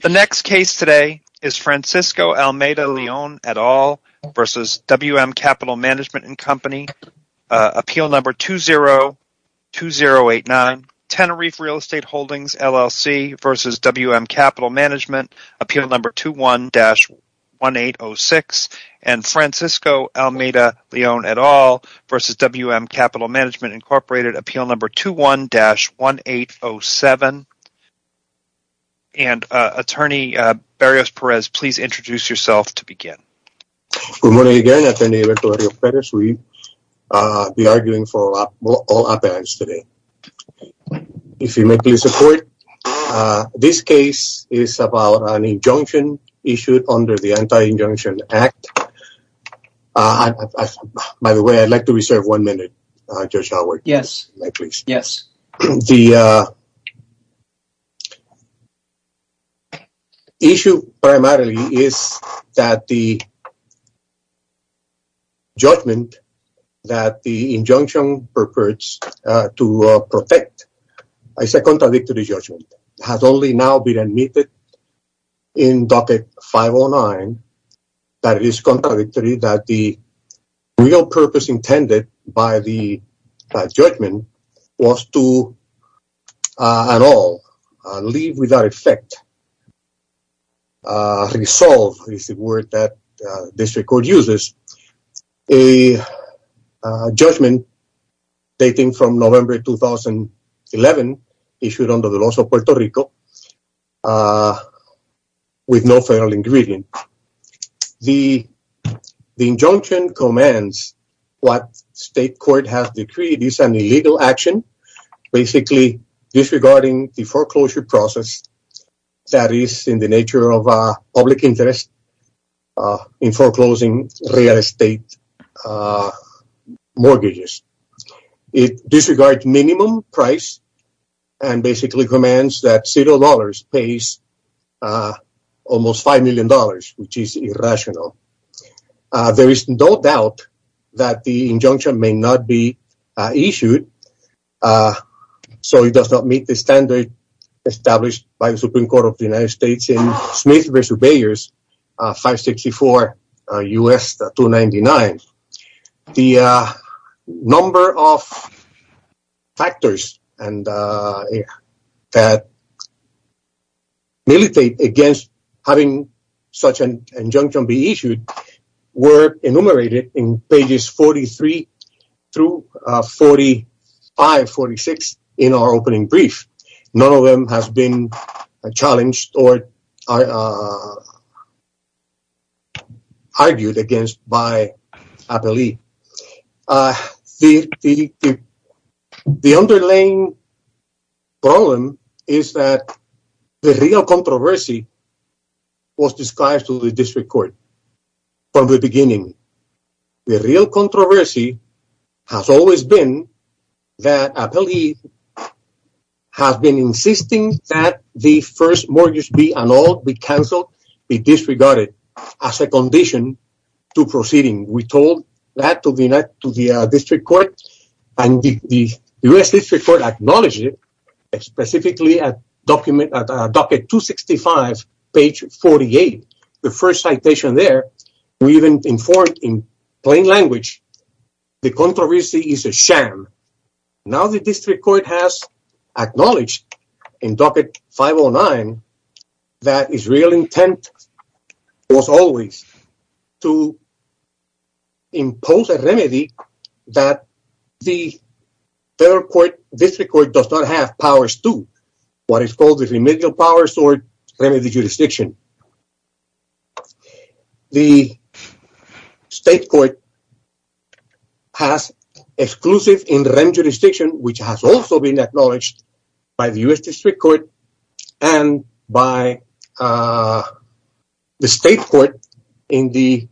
Francisco Almeida-Leon v. WM Capital Management & Co. 202089 Tenerife Real Estate Holdings, LLC v. WM Capital Management 21-1806 Francisco Almeida-Leon v. WM Capital Management, Inc. 21-1807 Attorney Berrios-Perez, please introduce yourself to begin. Good morning again, Attorney Berrios-Perez. We are arguing for all appearance today. If you may please support, this case is about an injunction issued under the Anti-Injunction Act. By the way, I'd like to reserve one minute, Judge Howard. Yes. May I please? Yes. The issue primarily is that the judgment that the injunction purports to protect, I say contradictory judgment, has only now been admitted in Docket 509 that it is contradictory that the real purpose intended by the judgment was to, at all, leave without effect. Resolve is the word that this record uses. A judgment dating from November 2011 issued under the laws of Puerto Rico with no federal ingredient. The injunction commands what state court has decreed is an illegal action, basically disregarding the foreclosure process that is in the nature of public interest in foreclosing real estate mortgages. It disregards minimum price and basically commands that $0 pays almost $5 million, which is irrational. There is no doubt that the injunction may not be issued. So it does not meet the standard established by the Supreme Court of the United States in Smith v. Beyers, 564 U.S. 299. The number of factors that militate against having such an injunction be issued were enumerated in pages 43 through 45, 46 in our opening brief. None of them has been challenged or argued against by Appellee. The underlying problem is that the real controversy was described to the district court from the beginning. The real controversy has always been that Appellee has been insisting that the first mortgage be annulled, be canceled, be disregarded as a condition to proceeding. We told that to the district court, and the U.S. district court acknowledged it, specifically at docket 265, page 48, the first citation there. We even informed in plain language the controversy is a sham. Now the district court has acknowledged in docket 509 that Israel's intent was always to impose a remedy that the federal court, district court, does not have powers to, what is called the remedial powers or remedy jurisdiction. The state court has exclusive in remedial jurisdiction, which has also been acknowledged by the U.S. district court and by the state court in the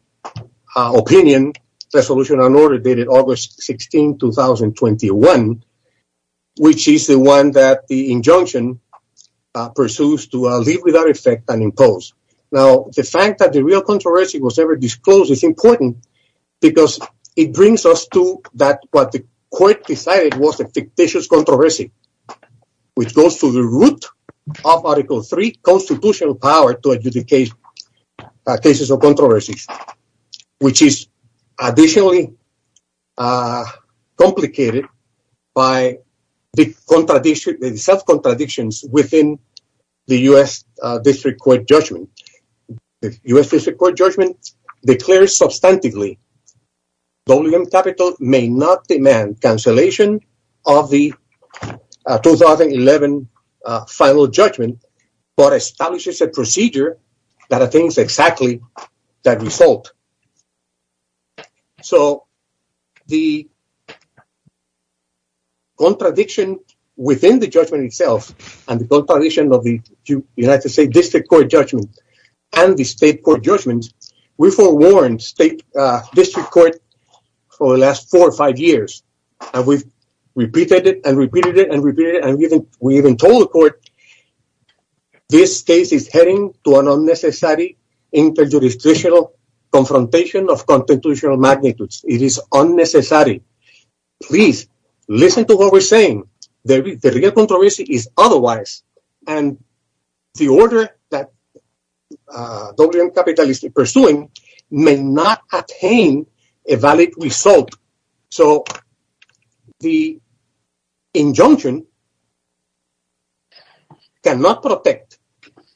opinion resolution on order dated August 16, 2021, which is the one that the injunction pursues to leave without effect and impose. Now, the fact that the real controversy was ever disclosed is important because it brings us to that what the court decided was a fictitious controversy, which goes to the root of Article 3 constitutional power to adjudicate cases of controversy, which is additionally complicated by the self-contradictions within the U.S. district court judgment. The U.S. district court judgment declares substantively WM capital may not demand cancellation of the 2011 final judgment, but establishes a procedure that attains exactly that result. So the contradiction within the judgment itself and the contradiction of the United States district court judgment and the state court judgment, we forewarned state district court for the last four or five years, and we've repeated it and repeated it and repeated it. We even told the court, this case is heading to an unnecessary inter-jurisdictional confrontation of constitutional magnitudes. It is unnecessary. Please listen to what we're saying. The real controversy is otherwise, and the order that WM capital is pursuing may not attain a valid result. So the injunction cannot protect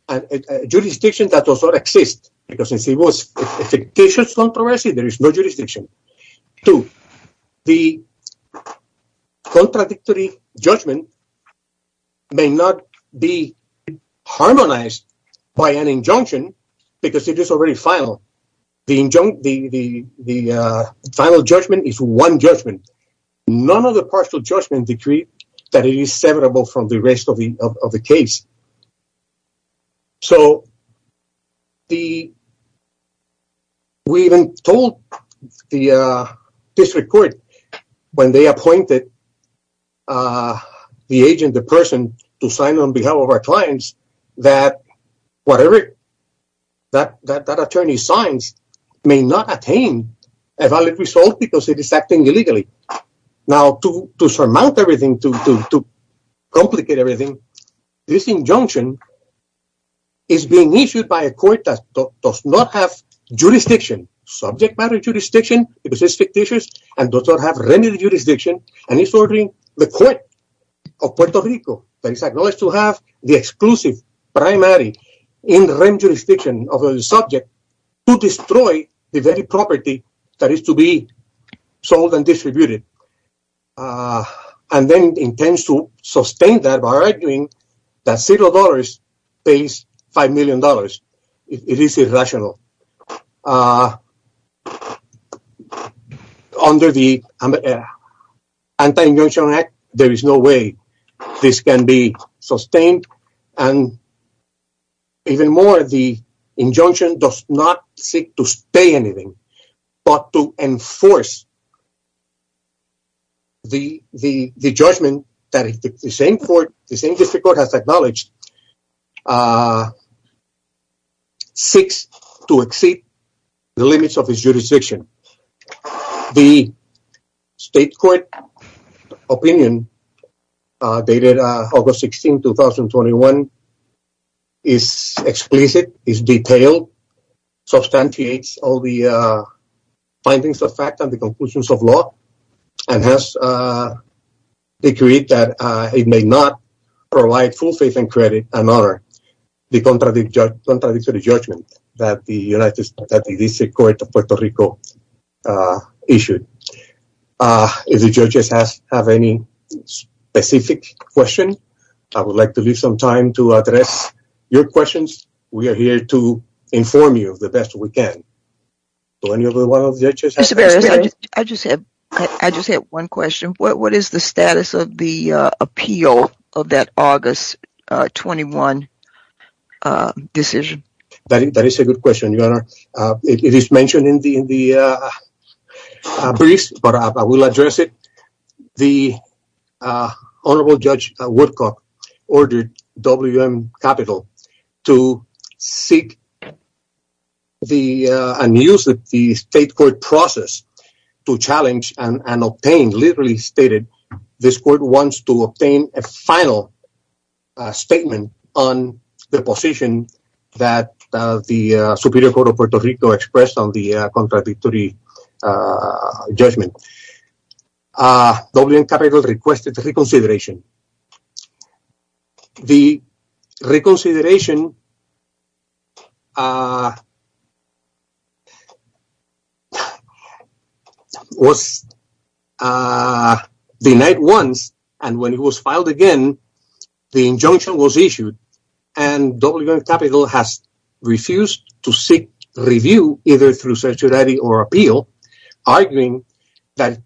a jurisdiction that does not exist because it was a fictitious controversy. There is no jurisdiction to the contradictory judgment may not be harmonized by an injunction because it is already final. The final judgment is one judgment. None of the partial judgment decreed that it is severable from the rest of the case. So we even told the district court when they appointed the agent, the person to sign on behalf of our clients, that whatever that attorney signs may not attain a valid result because it is acting illegally. Now, to surmount everything, to complicate everything, this injunction is being issued by a court that does not have jurisdiction, subject matter jurisdiction, because it's fictitious, and does not have remedy jurisdiction, and it's ordering the court of Puerto Rico, that is acknowledged to have the exclusive, primary, interim jurisdiction over the subject, to destroy the very property that is to be sold and distributed, and then intends to sustain that by arguing that $0 pays $5 million. It is irrational. Under the Anti-Injunction Act, there is no way this can be sustained. Even more, the injunction does not seek to stay anything, but to enforce the judgment that the same district court has acknowledged seeks to exceed the limits of its jurisdiction. The state court opinion dated August 16, 2021, is explicit, is detailed, substantiates all the findings of fact and the conclusions of law, and has decreed that it may not provide full faith and credit and honor the contradictory judgment that the district court of Puerto Rico issued. If the judges have any specific questions, I would like to leave some time to address your questions. We are here to inform you of the best we can. Mr. Barrios, I just have one question. What is the status of the appeal of that August 21 decision? That is a good question, Your Honor. It is mentioned in the briefs, but I will address it. The Honorable Judge Woodcock ordered WM Capital to seek and use the state court process to challenge and obtain, literally stated, this court wants to obtain a final statement on the position that the Superior Court of Puerto Rico expressed on the contradictory judgment. WM Capital requested reconsideration. The reconsideration was denied once, and when it was filed again, the injunction was issued. And WM Capital has refused to seek review, either through certiorari or appeal, arguing that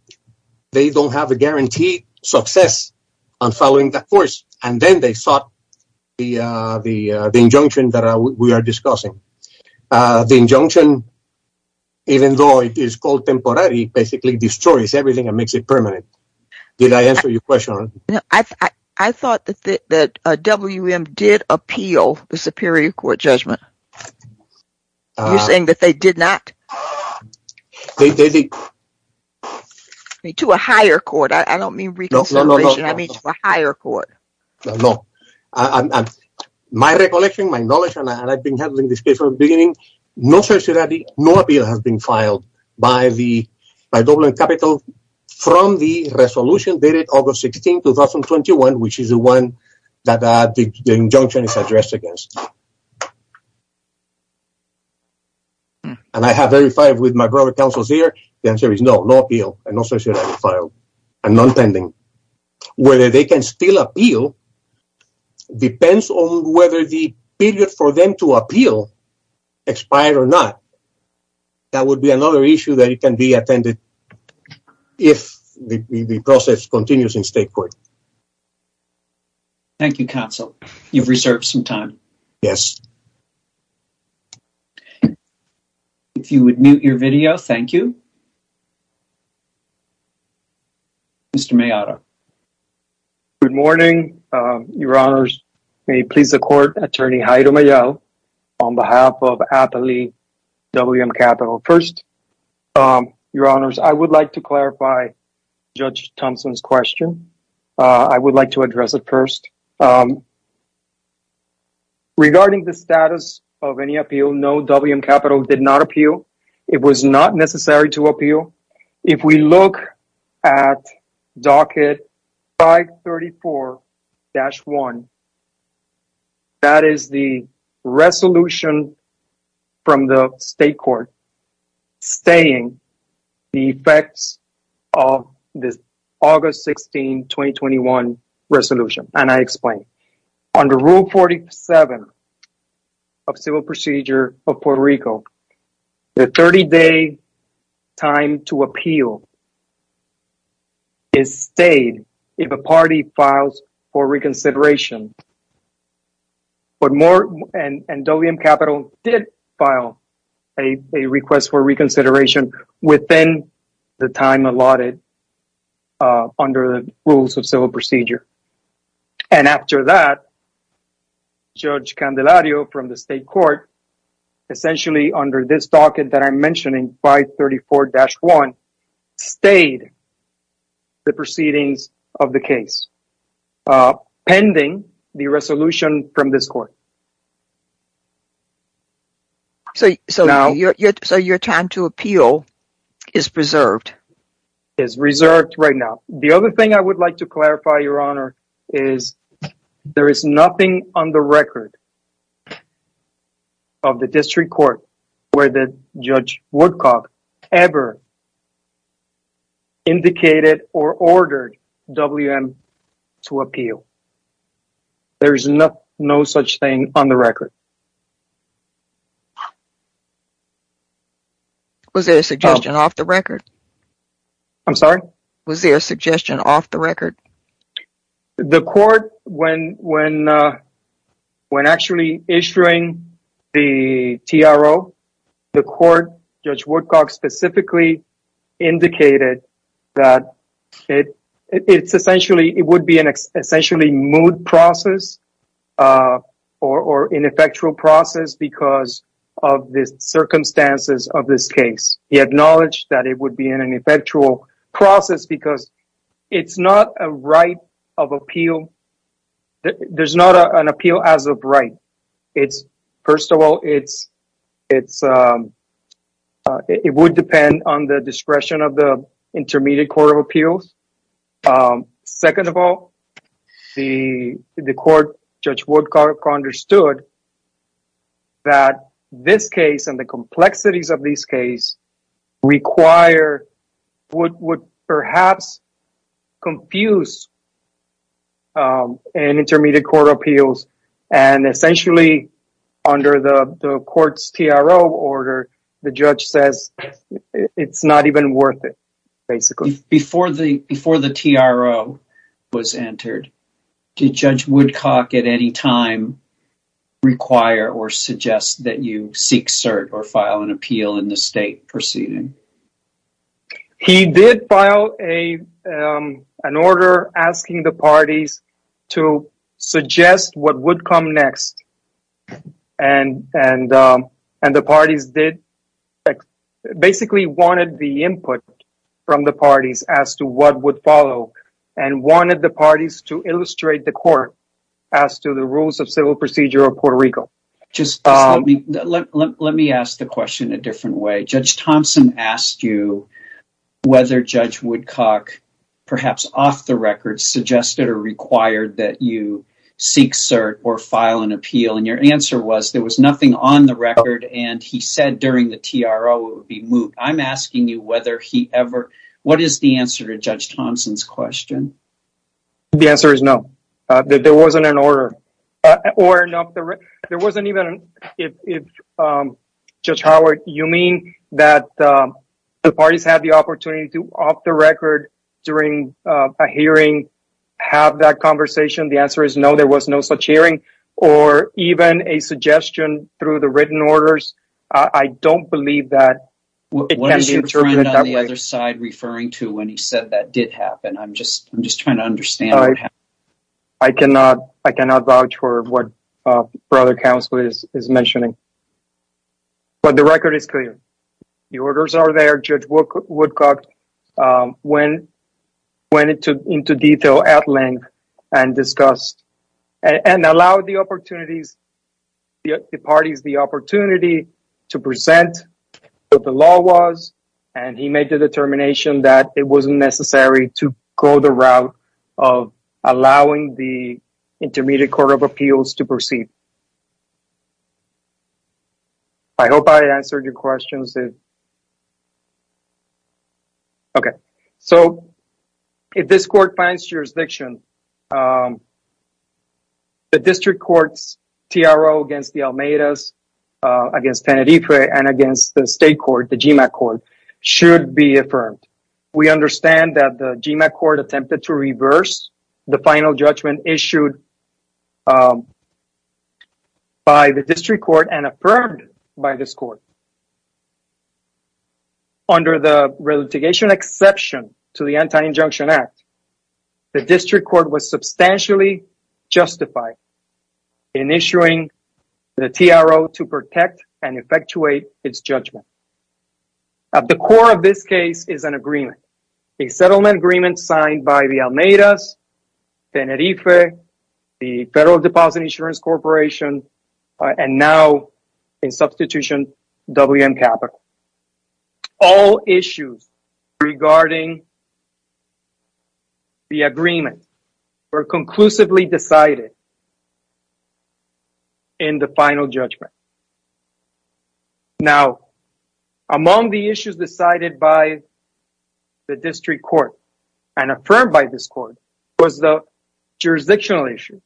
they don't have a guaranteed success on following that course. And then they sought the injunction that we are discussing. The injunction, even though it is called temporare, basically destroys everything and makes it permanent. I thought that WM did appeal the Superior Court judgment. You're saying that they did not? They did. To a higher court. I don't mean reconsideration. I mean to a higher court. No. My recollection, my knowledge, and I've been handling this case from the beginning, no certiorari, no appeal has been filed by WM Capital. From the resolution dated August 16, 2021, which is the one that the injunction is addressed against. And I have verified with my brother counsels here. The answer is no, no appeal and no certiorari filed and non-pending. Whether they can still appeal depends on whether the period for them to appeal expired or not. That would be another issue that can be attended if the process continues in state court. Thank you, counsel. You've reserved some time. Yes. If you would mute your video, thank you. Mr. Maillard. Good morning, Your Honors. May it please the Court, Attorney Haider Maillard, on behalf of Appley WM Capital. First, Your Honors, I would like to clarify Judge Thompson's question. Regarding the status of any appeal, no WM Capital did not appeal. It was not necessary to appeal. If we look at Docket 534-1, that is the resolution from the state court stating the effects of this August 16, 2021 resolution. Under Rule 47 of Civil Procedure of Puerto Rico, the 30-day time to appeal is stayed if a party files for reconsideration. WM Capital did file a request for reconsideration within the time allotted under the Rules of Civil Procedure. And after that, Judge Candelario from the state court, essentially under this docket that I'm mentioning, 534-1, stayed the proceedings of the case pending the resolution from this court. So your time to appeal is preserved? Is reserved right now. The other thing I would like to clarify, Your Honor, is there is nothing on the record of the district court where Judge Woodcock ever indicated or ordered WM to appeal. There is no such thing on the record. Was there a suggestion off the record? I'm sorry? Was there a suggestion off the record? The court, when actually issuing the TRO, the court, Judge Woodcock specifically indicated that it would be an essentially moot process or ineffectual process because of the circumstances of this case. He acknowledged that it would be an ineffectual process because it's not a right of appeal. There's not an appeal as of right. First of all, it would depend on the discretion of the Intermediate Court of Appeals. Second of all, the court, Judge Woodcock, understood that this case and the complexities of this case require what would perhaps confuse an Intermediate Court of Appeals. And essentially, under the court's TRO order, the judge says it's not even worth it, basically. Before the TRO was entered, did Judge Woodcock at any time require or suggest that you seek cert or file an appeal in the state proceeding? He did file an order asking the parties to suggest what would come next. And the parties basically wanted the input from the parties as to what would follow and wanted the parties to illustrate the court as to the rules of civil procedure of Puerto Rico. Let me ask the question a different way. Judge Thompson asked you whether Judge Woodcock, perhaps off the record, suggested or required that you seek cert or file an appeal. And your answer was there was nothing on the record and he said during the TRO it would be moot. I'm asking you what is the answer to Judge Thompson's question? The answer is no. There wasn't an order. Judge Howard, you mean that the parties had the opportunity to, off the record, during a hearing, have that conversation? The answer is no, there was no such hearing. Or even a suggestion through the written orders? I don't believe that it can be interpreted that way. What is your friend on the other side referring to when he said that did happen? I'm just trying to understand what happened. I cannot vouch for what Brother Counselor is mentioning. But the record is clear. The orders are there. Judge Woodcock went into detail at length and discussed and allowed the parties the opportunity to present what the law was. And he made the determination that it wasn't necessary to go the route of allowing the Intermediate Court of Appeals to proceed. I hope I answered your questions. Okay. So, if this court finds jurisdiction, the district court's TRO against the Almeidas, against Tenerife, and against the state court, the GMAC court, should be affirmed. We understand that the GMAC court attempted to reverse the final judgment issued by the district court and affirmed by this court. Under the relitigation exception to the Anti-Injunction Act, the district court was substantially justified in issuing the TRO to protect and effectuate its judgment. At the core of this case is an agreement. A settlement agreement signed by the Almeidas, Tenerife, the Federal Deposit Insurance Corporation, and now, in substitution, WM Capital. All issues regarding the agreement were conclusively decided in the final judgment. Now, among the issues decided by the district court and affirmed by this court was the jurisdictional issue.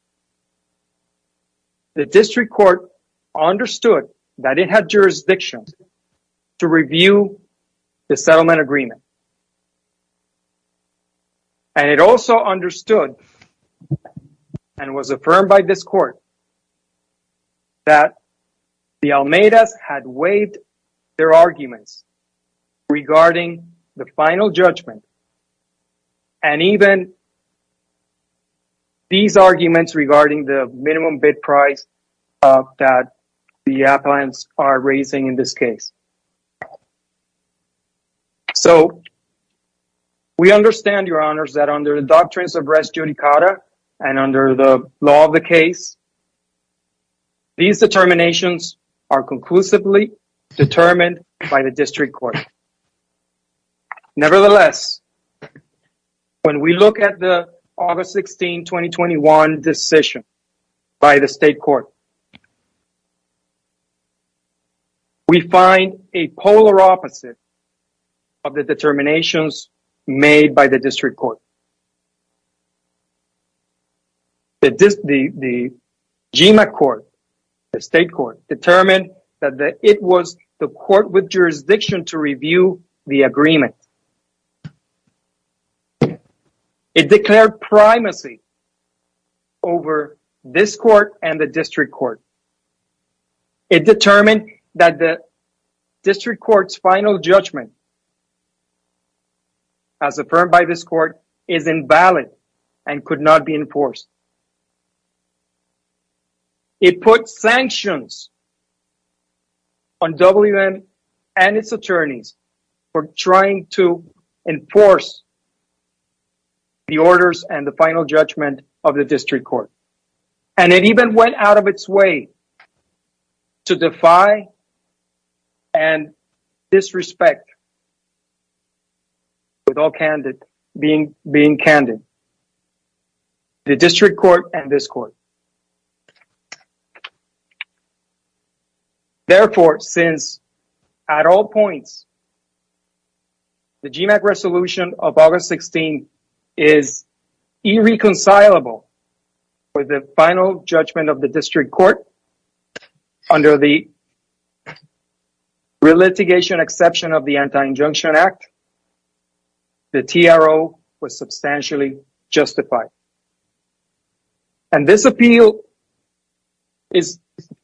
The district court understood that it had jurisdiction to review the settlement agreement. And it also understood and was affirmed by this court that the Almeidas had waived their arguments regarding the final judgment. And even these arguments regarding the minimum bid price that the appliance are raising in this case. So, we understand, your honors, that under the doctrines of res judicata and under the law of the case, these determinations are conclusively determined by the district court. Nevertheless, when we look at the August 16, 2021 decision by the state court, we find a polar opposite of the determinations made by the district court. The GMA court, the state court, determined that it was the court with jurisdiction to review the agreement. It declared primacy over this court and the district court. It determined that the district court's final judgment, as affirmed by this court, is invalid and could not be enforced. It put sanctions on WM and its attorneys for trying to enforce the orders and the final judgment of the district court. And it even went out of its way to defy and disrespect, with all being candid, the district court and this court. Therefore, since at all points, the GMA resolution of August 16 is irreconcilable with the final judgment of the district court, under the relitigation exception of the Anti-Injunction Act, the TRO was substantially justified. And this appeal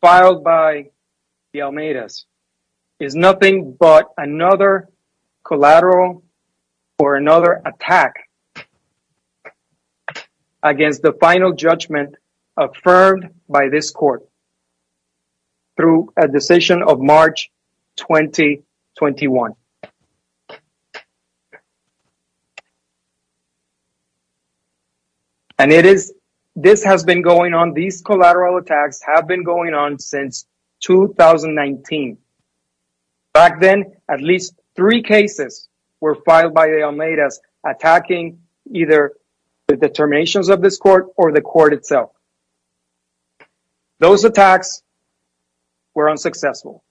filed by the Almeidas is nothing but another collateral or another attack against the final judgment affirmed by this court through a decision of March 2021. And it is, this has been going on, these collateral attacks have been going on since 2019. Back then, at least three cases were filed by the Almeidas attacking either the determinations of this court or the court itself. Those attacks were unsuccessful.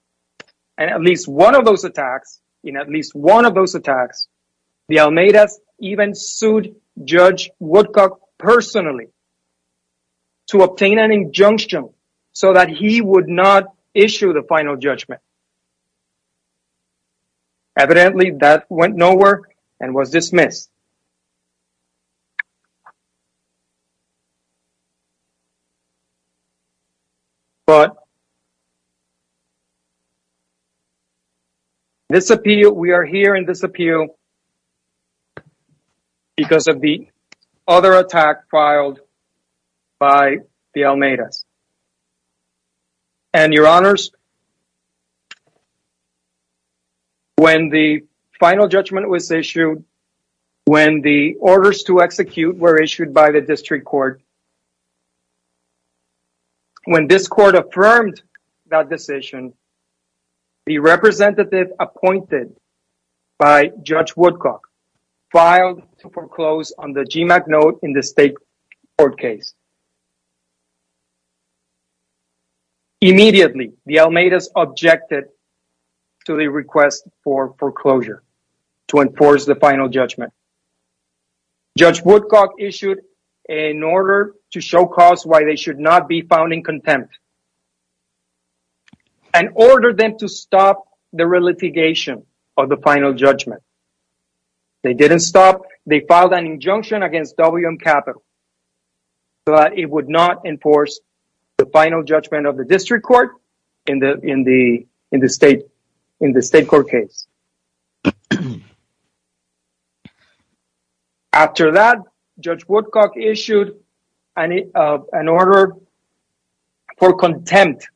And at least one of those attacks, in at least one of those attacks, the Almeidas even sued Judge Woodcock personally to obtain an injunction so that he would not issue the final judgment. Evidently, that went nowhere and was dismissed. But this appeal, we are here in this appeal because of the other attack filed by the Almeidas. And your honors, when the final judgment was issued, when the orders to execute were issued by the district court, when this court affirmed that decision, the representative appointed by Judge Woodcock filed to foreclose on the GMAC note in the state court case. Immediately, the Almeidas objected to the request for foreclosure to enforce the final judgment. Judge Woodcock issued an order to show cause why they should not be found in contempt and ordered them to stop the relitigation of the final judgment. They didn't stop. They filed an injunction against WM Capital so that it would not enforce the final judgment of the district court in the state court case. After that, Judge Woodcock issued an order for contempt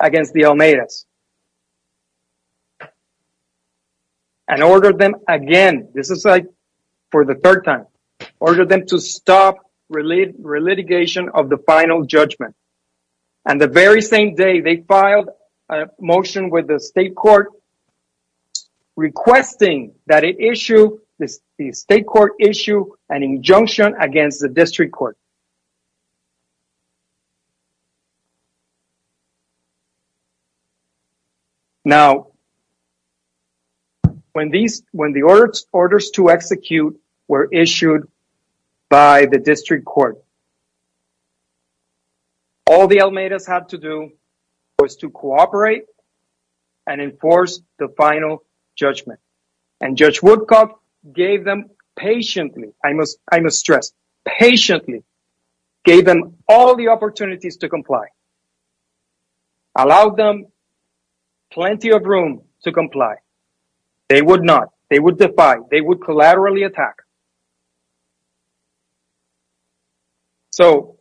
against the Almeidas. And ordered them again, this is for the third time, ordered them to stop relitigation of the final judgment. And the very same day, they filed a motion with the state court requesting that the state court issue an injunction against the district court. Now, when the orders to execute were issued by the district court, all the Almeidas had to do was to cooperate and enforce the final judgment. And Judge Woodcock gave them patiently, I must stress patiently, gave them all the opportunities to comply. Allowed them plenty of room to comply. They would not. They would defy. They would collaterally attack. So,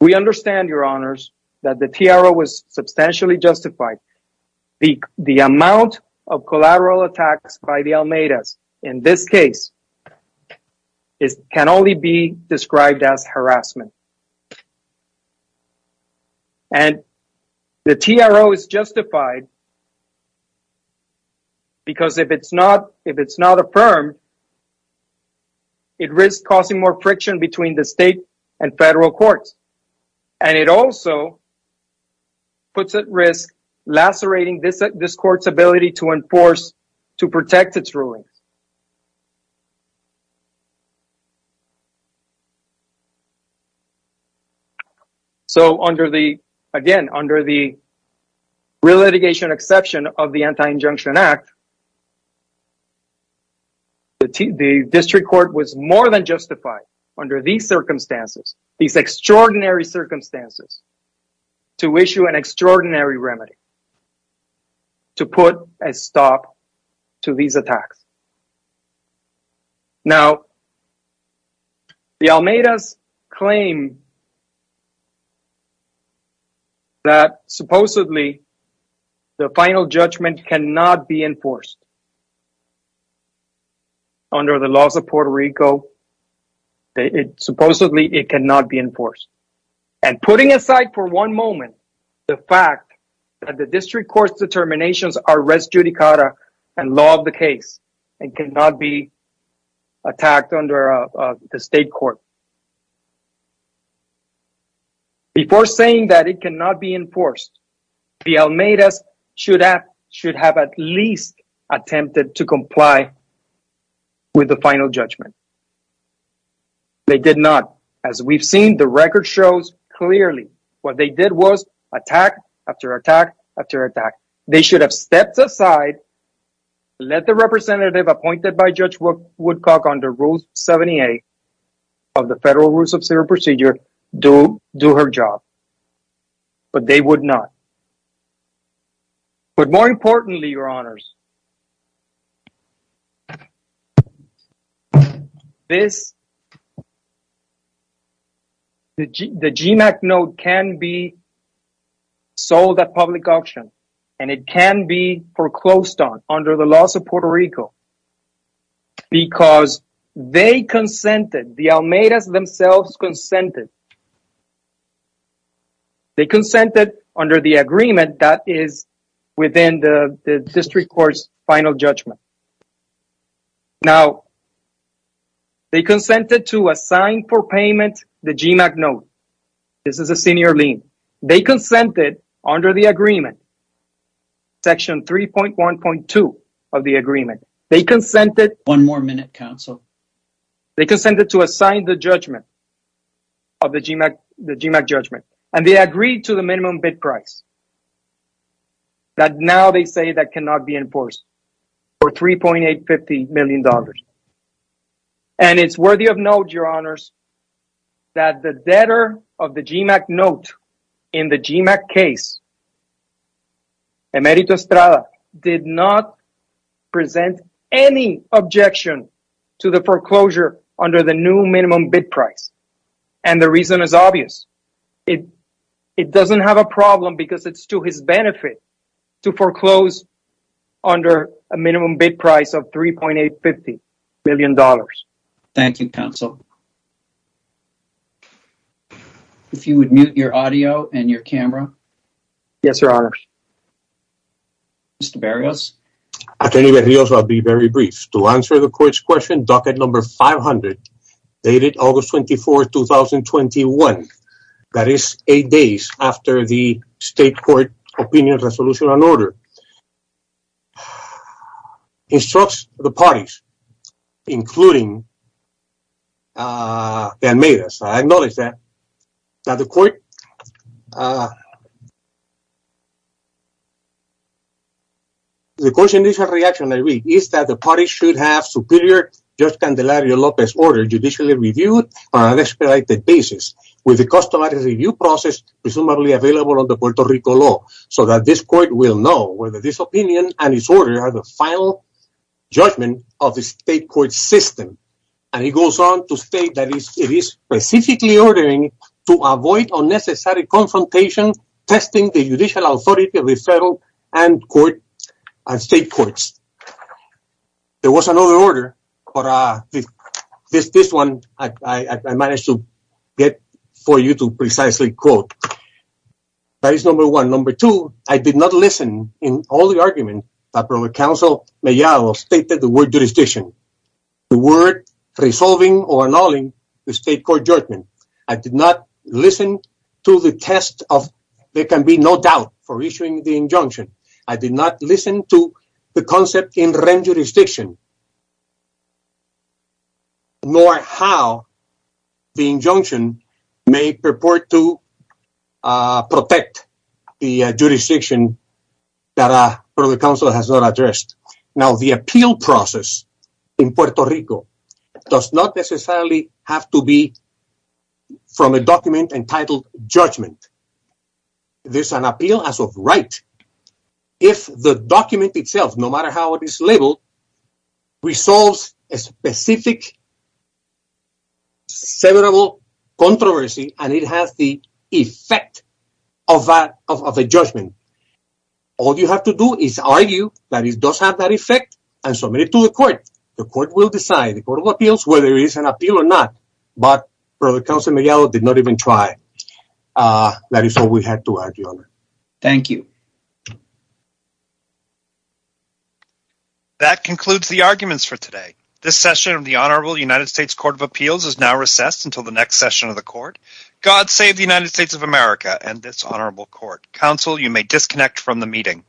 we understand, your honors, that the TRO was substantially justified. The amount of collateral attacks by the Almeidas, in this case, can only be described as harassment. And the TRO is justified because if it's not affirmed, it risks causing more friction between the state and federal courts. And it also puts at risk lacerating this court's ability to enforce, to protect its rulings. So, under the, again, under the relitigation exception of the Anti-Injunction Act, the district court was more than justified under these circumstances, these extraordinary circumstances, to issue an extraordinary remedy to put a stop to these attacks. Now, the Almeidas claim that supposedly the final judgment cannot be enforced. Under the laws of Puerto Rico, supposedly it cannot be enforced. And putting aside for one moment the fact that the district court's determinations are res judicata and law of the case, it cannot be attacked under the state court. Before saying that it cannot be enforced, the Almeidas should have at least attempted to comply with the final judgment. They did not. As we've seen, the record shows clearly. What they did was attack after attack after attack. They should have stepped aside, let the representative appointed by Judge Woodcock under Rule 78 of the Federal Rules of Serial Procedure do her job. But they would not. But more importantly, Your Honors, the GMAC note can be sold at public auction and it can be foreclosed on under the laws of Puerto Rico because they consented, the Almeidas themselves consented. They consented under the agreement that is within the district court's final judgment. Now, they consented to assign for payment the GMAC note. This is a senior lien. They consented under the agreement, Section 3.1.2 of the agreement. One more minute, counsel. They consented to assign the judgment of the GMAC judgment. And they agreed to the minimum bid price that now they say that cannot be enforced for $3.850 million. And it's worthy of note, Your Honors, that the debtor of the GMAC note in the GMAC case, Emerito Estrada, did not present any objection to the foreclosure under the new minimum bid price. And the reason is obvious. It doesn't have a problem because it's to his benefit to foreclose under a minimum bid price of $3.850 million. Thank you, counsel. If you would mute your audio and your camera. Yes, Your Honor. Mr. Berrios? Attorney Berrios, I'll be very brief. To answer the court's question, docket number 500, dated August 24, 2021, that is eight days after the state court opinion resolution and order, instructs the parties, including Almeida's. I acknowledge that the court's initial reaction, I read, is that the party should have superior Judge Candelario Lopez's order judicially reviewed on an expedited basis with the customary review process presumably available under Puerto Rico law so that this court will know whether this opinion and its order are the final judgment of the state court system. And he goes on to state that it is specifically ordering to avoid unnecessary confrontation testing the judicial authority of the federal and state courts. There was another order, but this one I managed to get for you to precisely quote. That is number one. Number two, I did not listen in all the arguments that counsel Mejia stated the word jurisdiction. The word resolving or annulling the state court judgment. I did not listen to the test of there can be no doubt for issuing the injunction. I did not listen to the concept in rent jurisdiction, nor how the injunction may purport to protect the jurisdiction that the counsel has not addressed. Now, the appeal process in Puerto Rico does not necessarily have to be from a document entitled judgment. There's an appeal as of right. If the document itself, no matter how it is labeled, resolves a specific severable controversy, and it has the effect of that of a judgment. All you have to do is argue that it does have that effect and submit it to the court. The court will decide the court of appeals, whether it is an appeal or not. But for the council, Miguel did not even try. That is all we had to argue on. Thank you. That concludes the arguments for today. This session of the Honorable United States Court of Appeals is now recessed until the next session of the court. God save the United States of America and this honorable court. Counsel, you may disconnect from the meeting.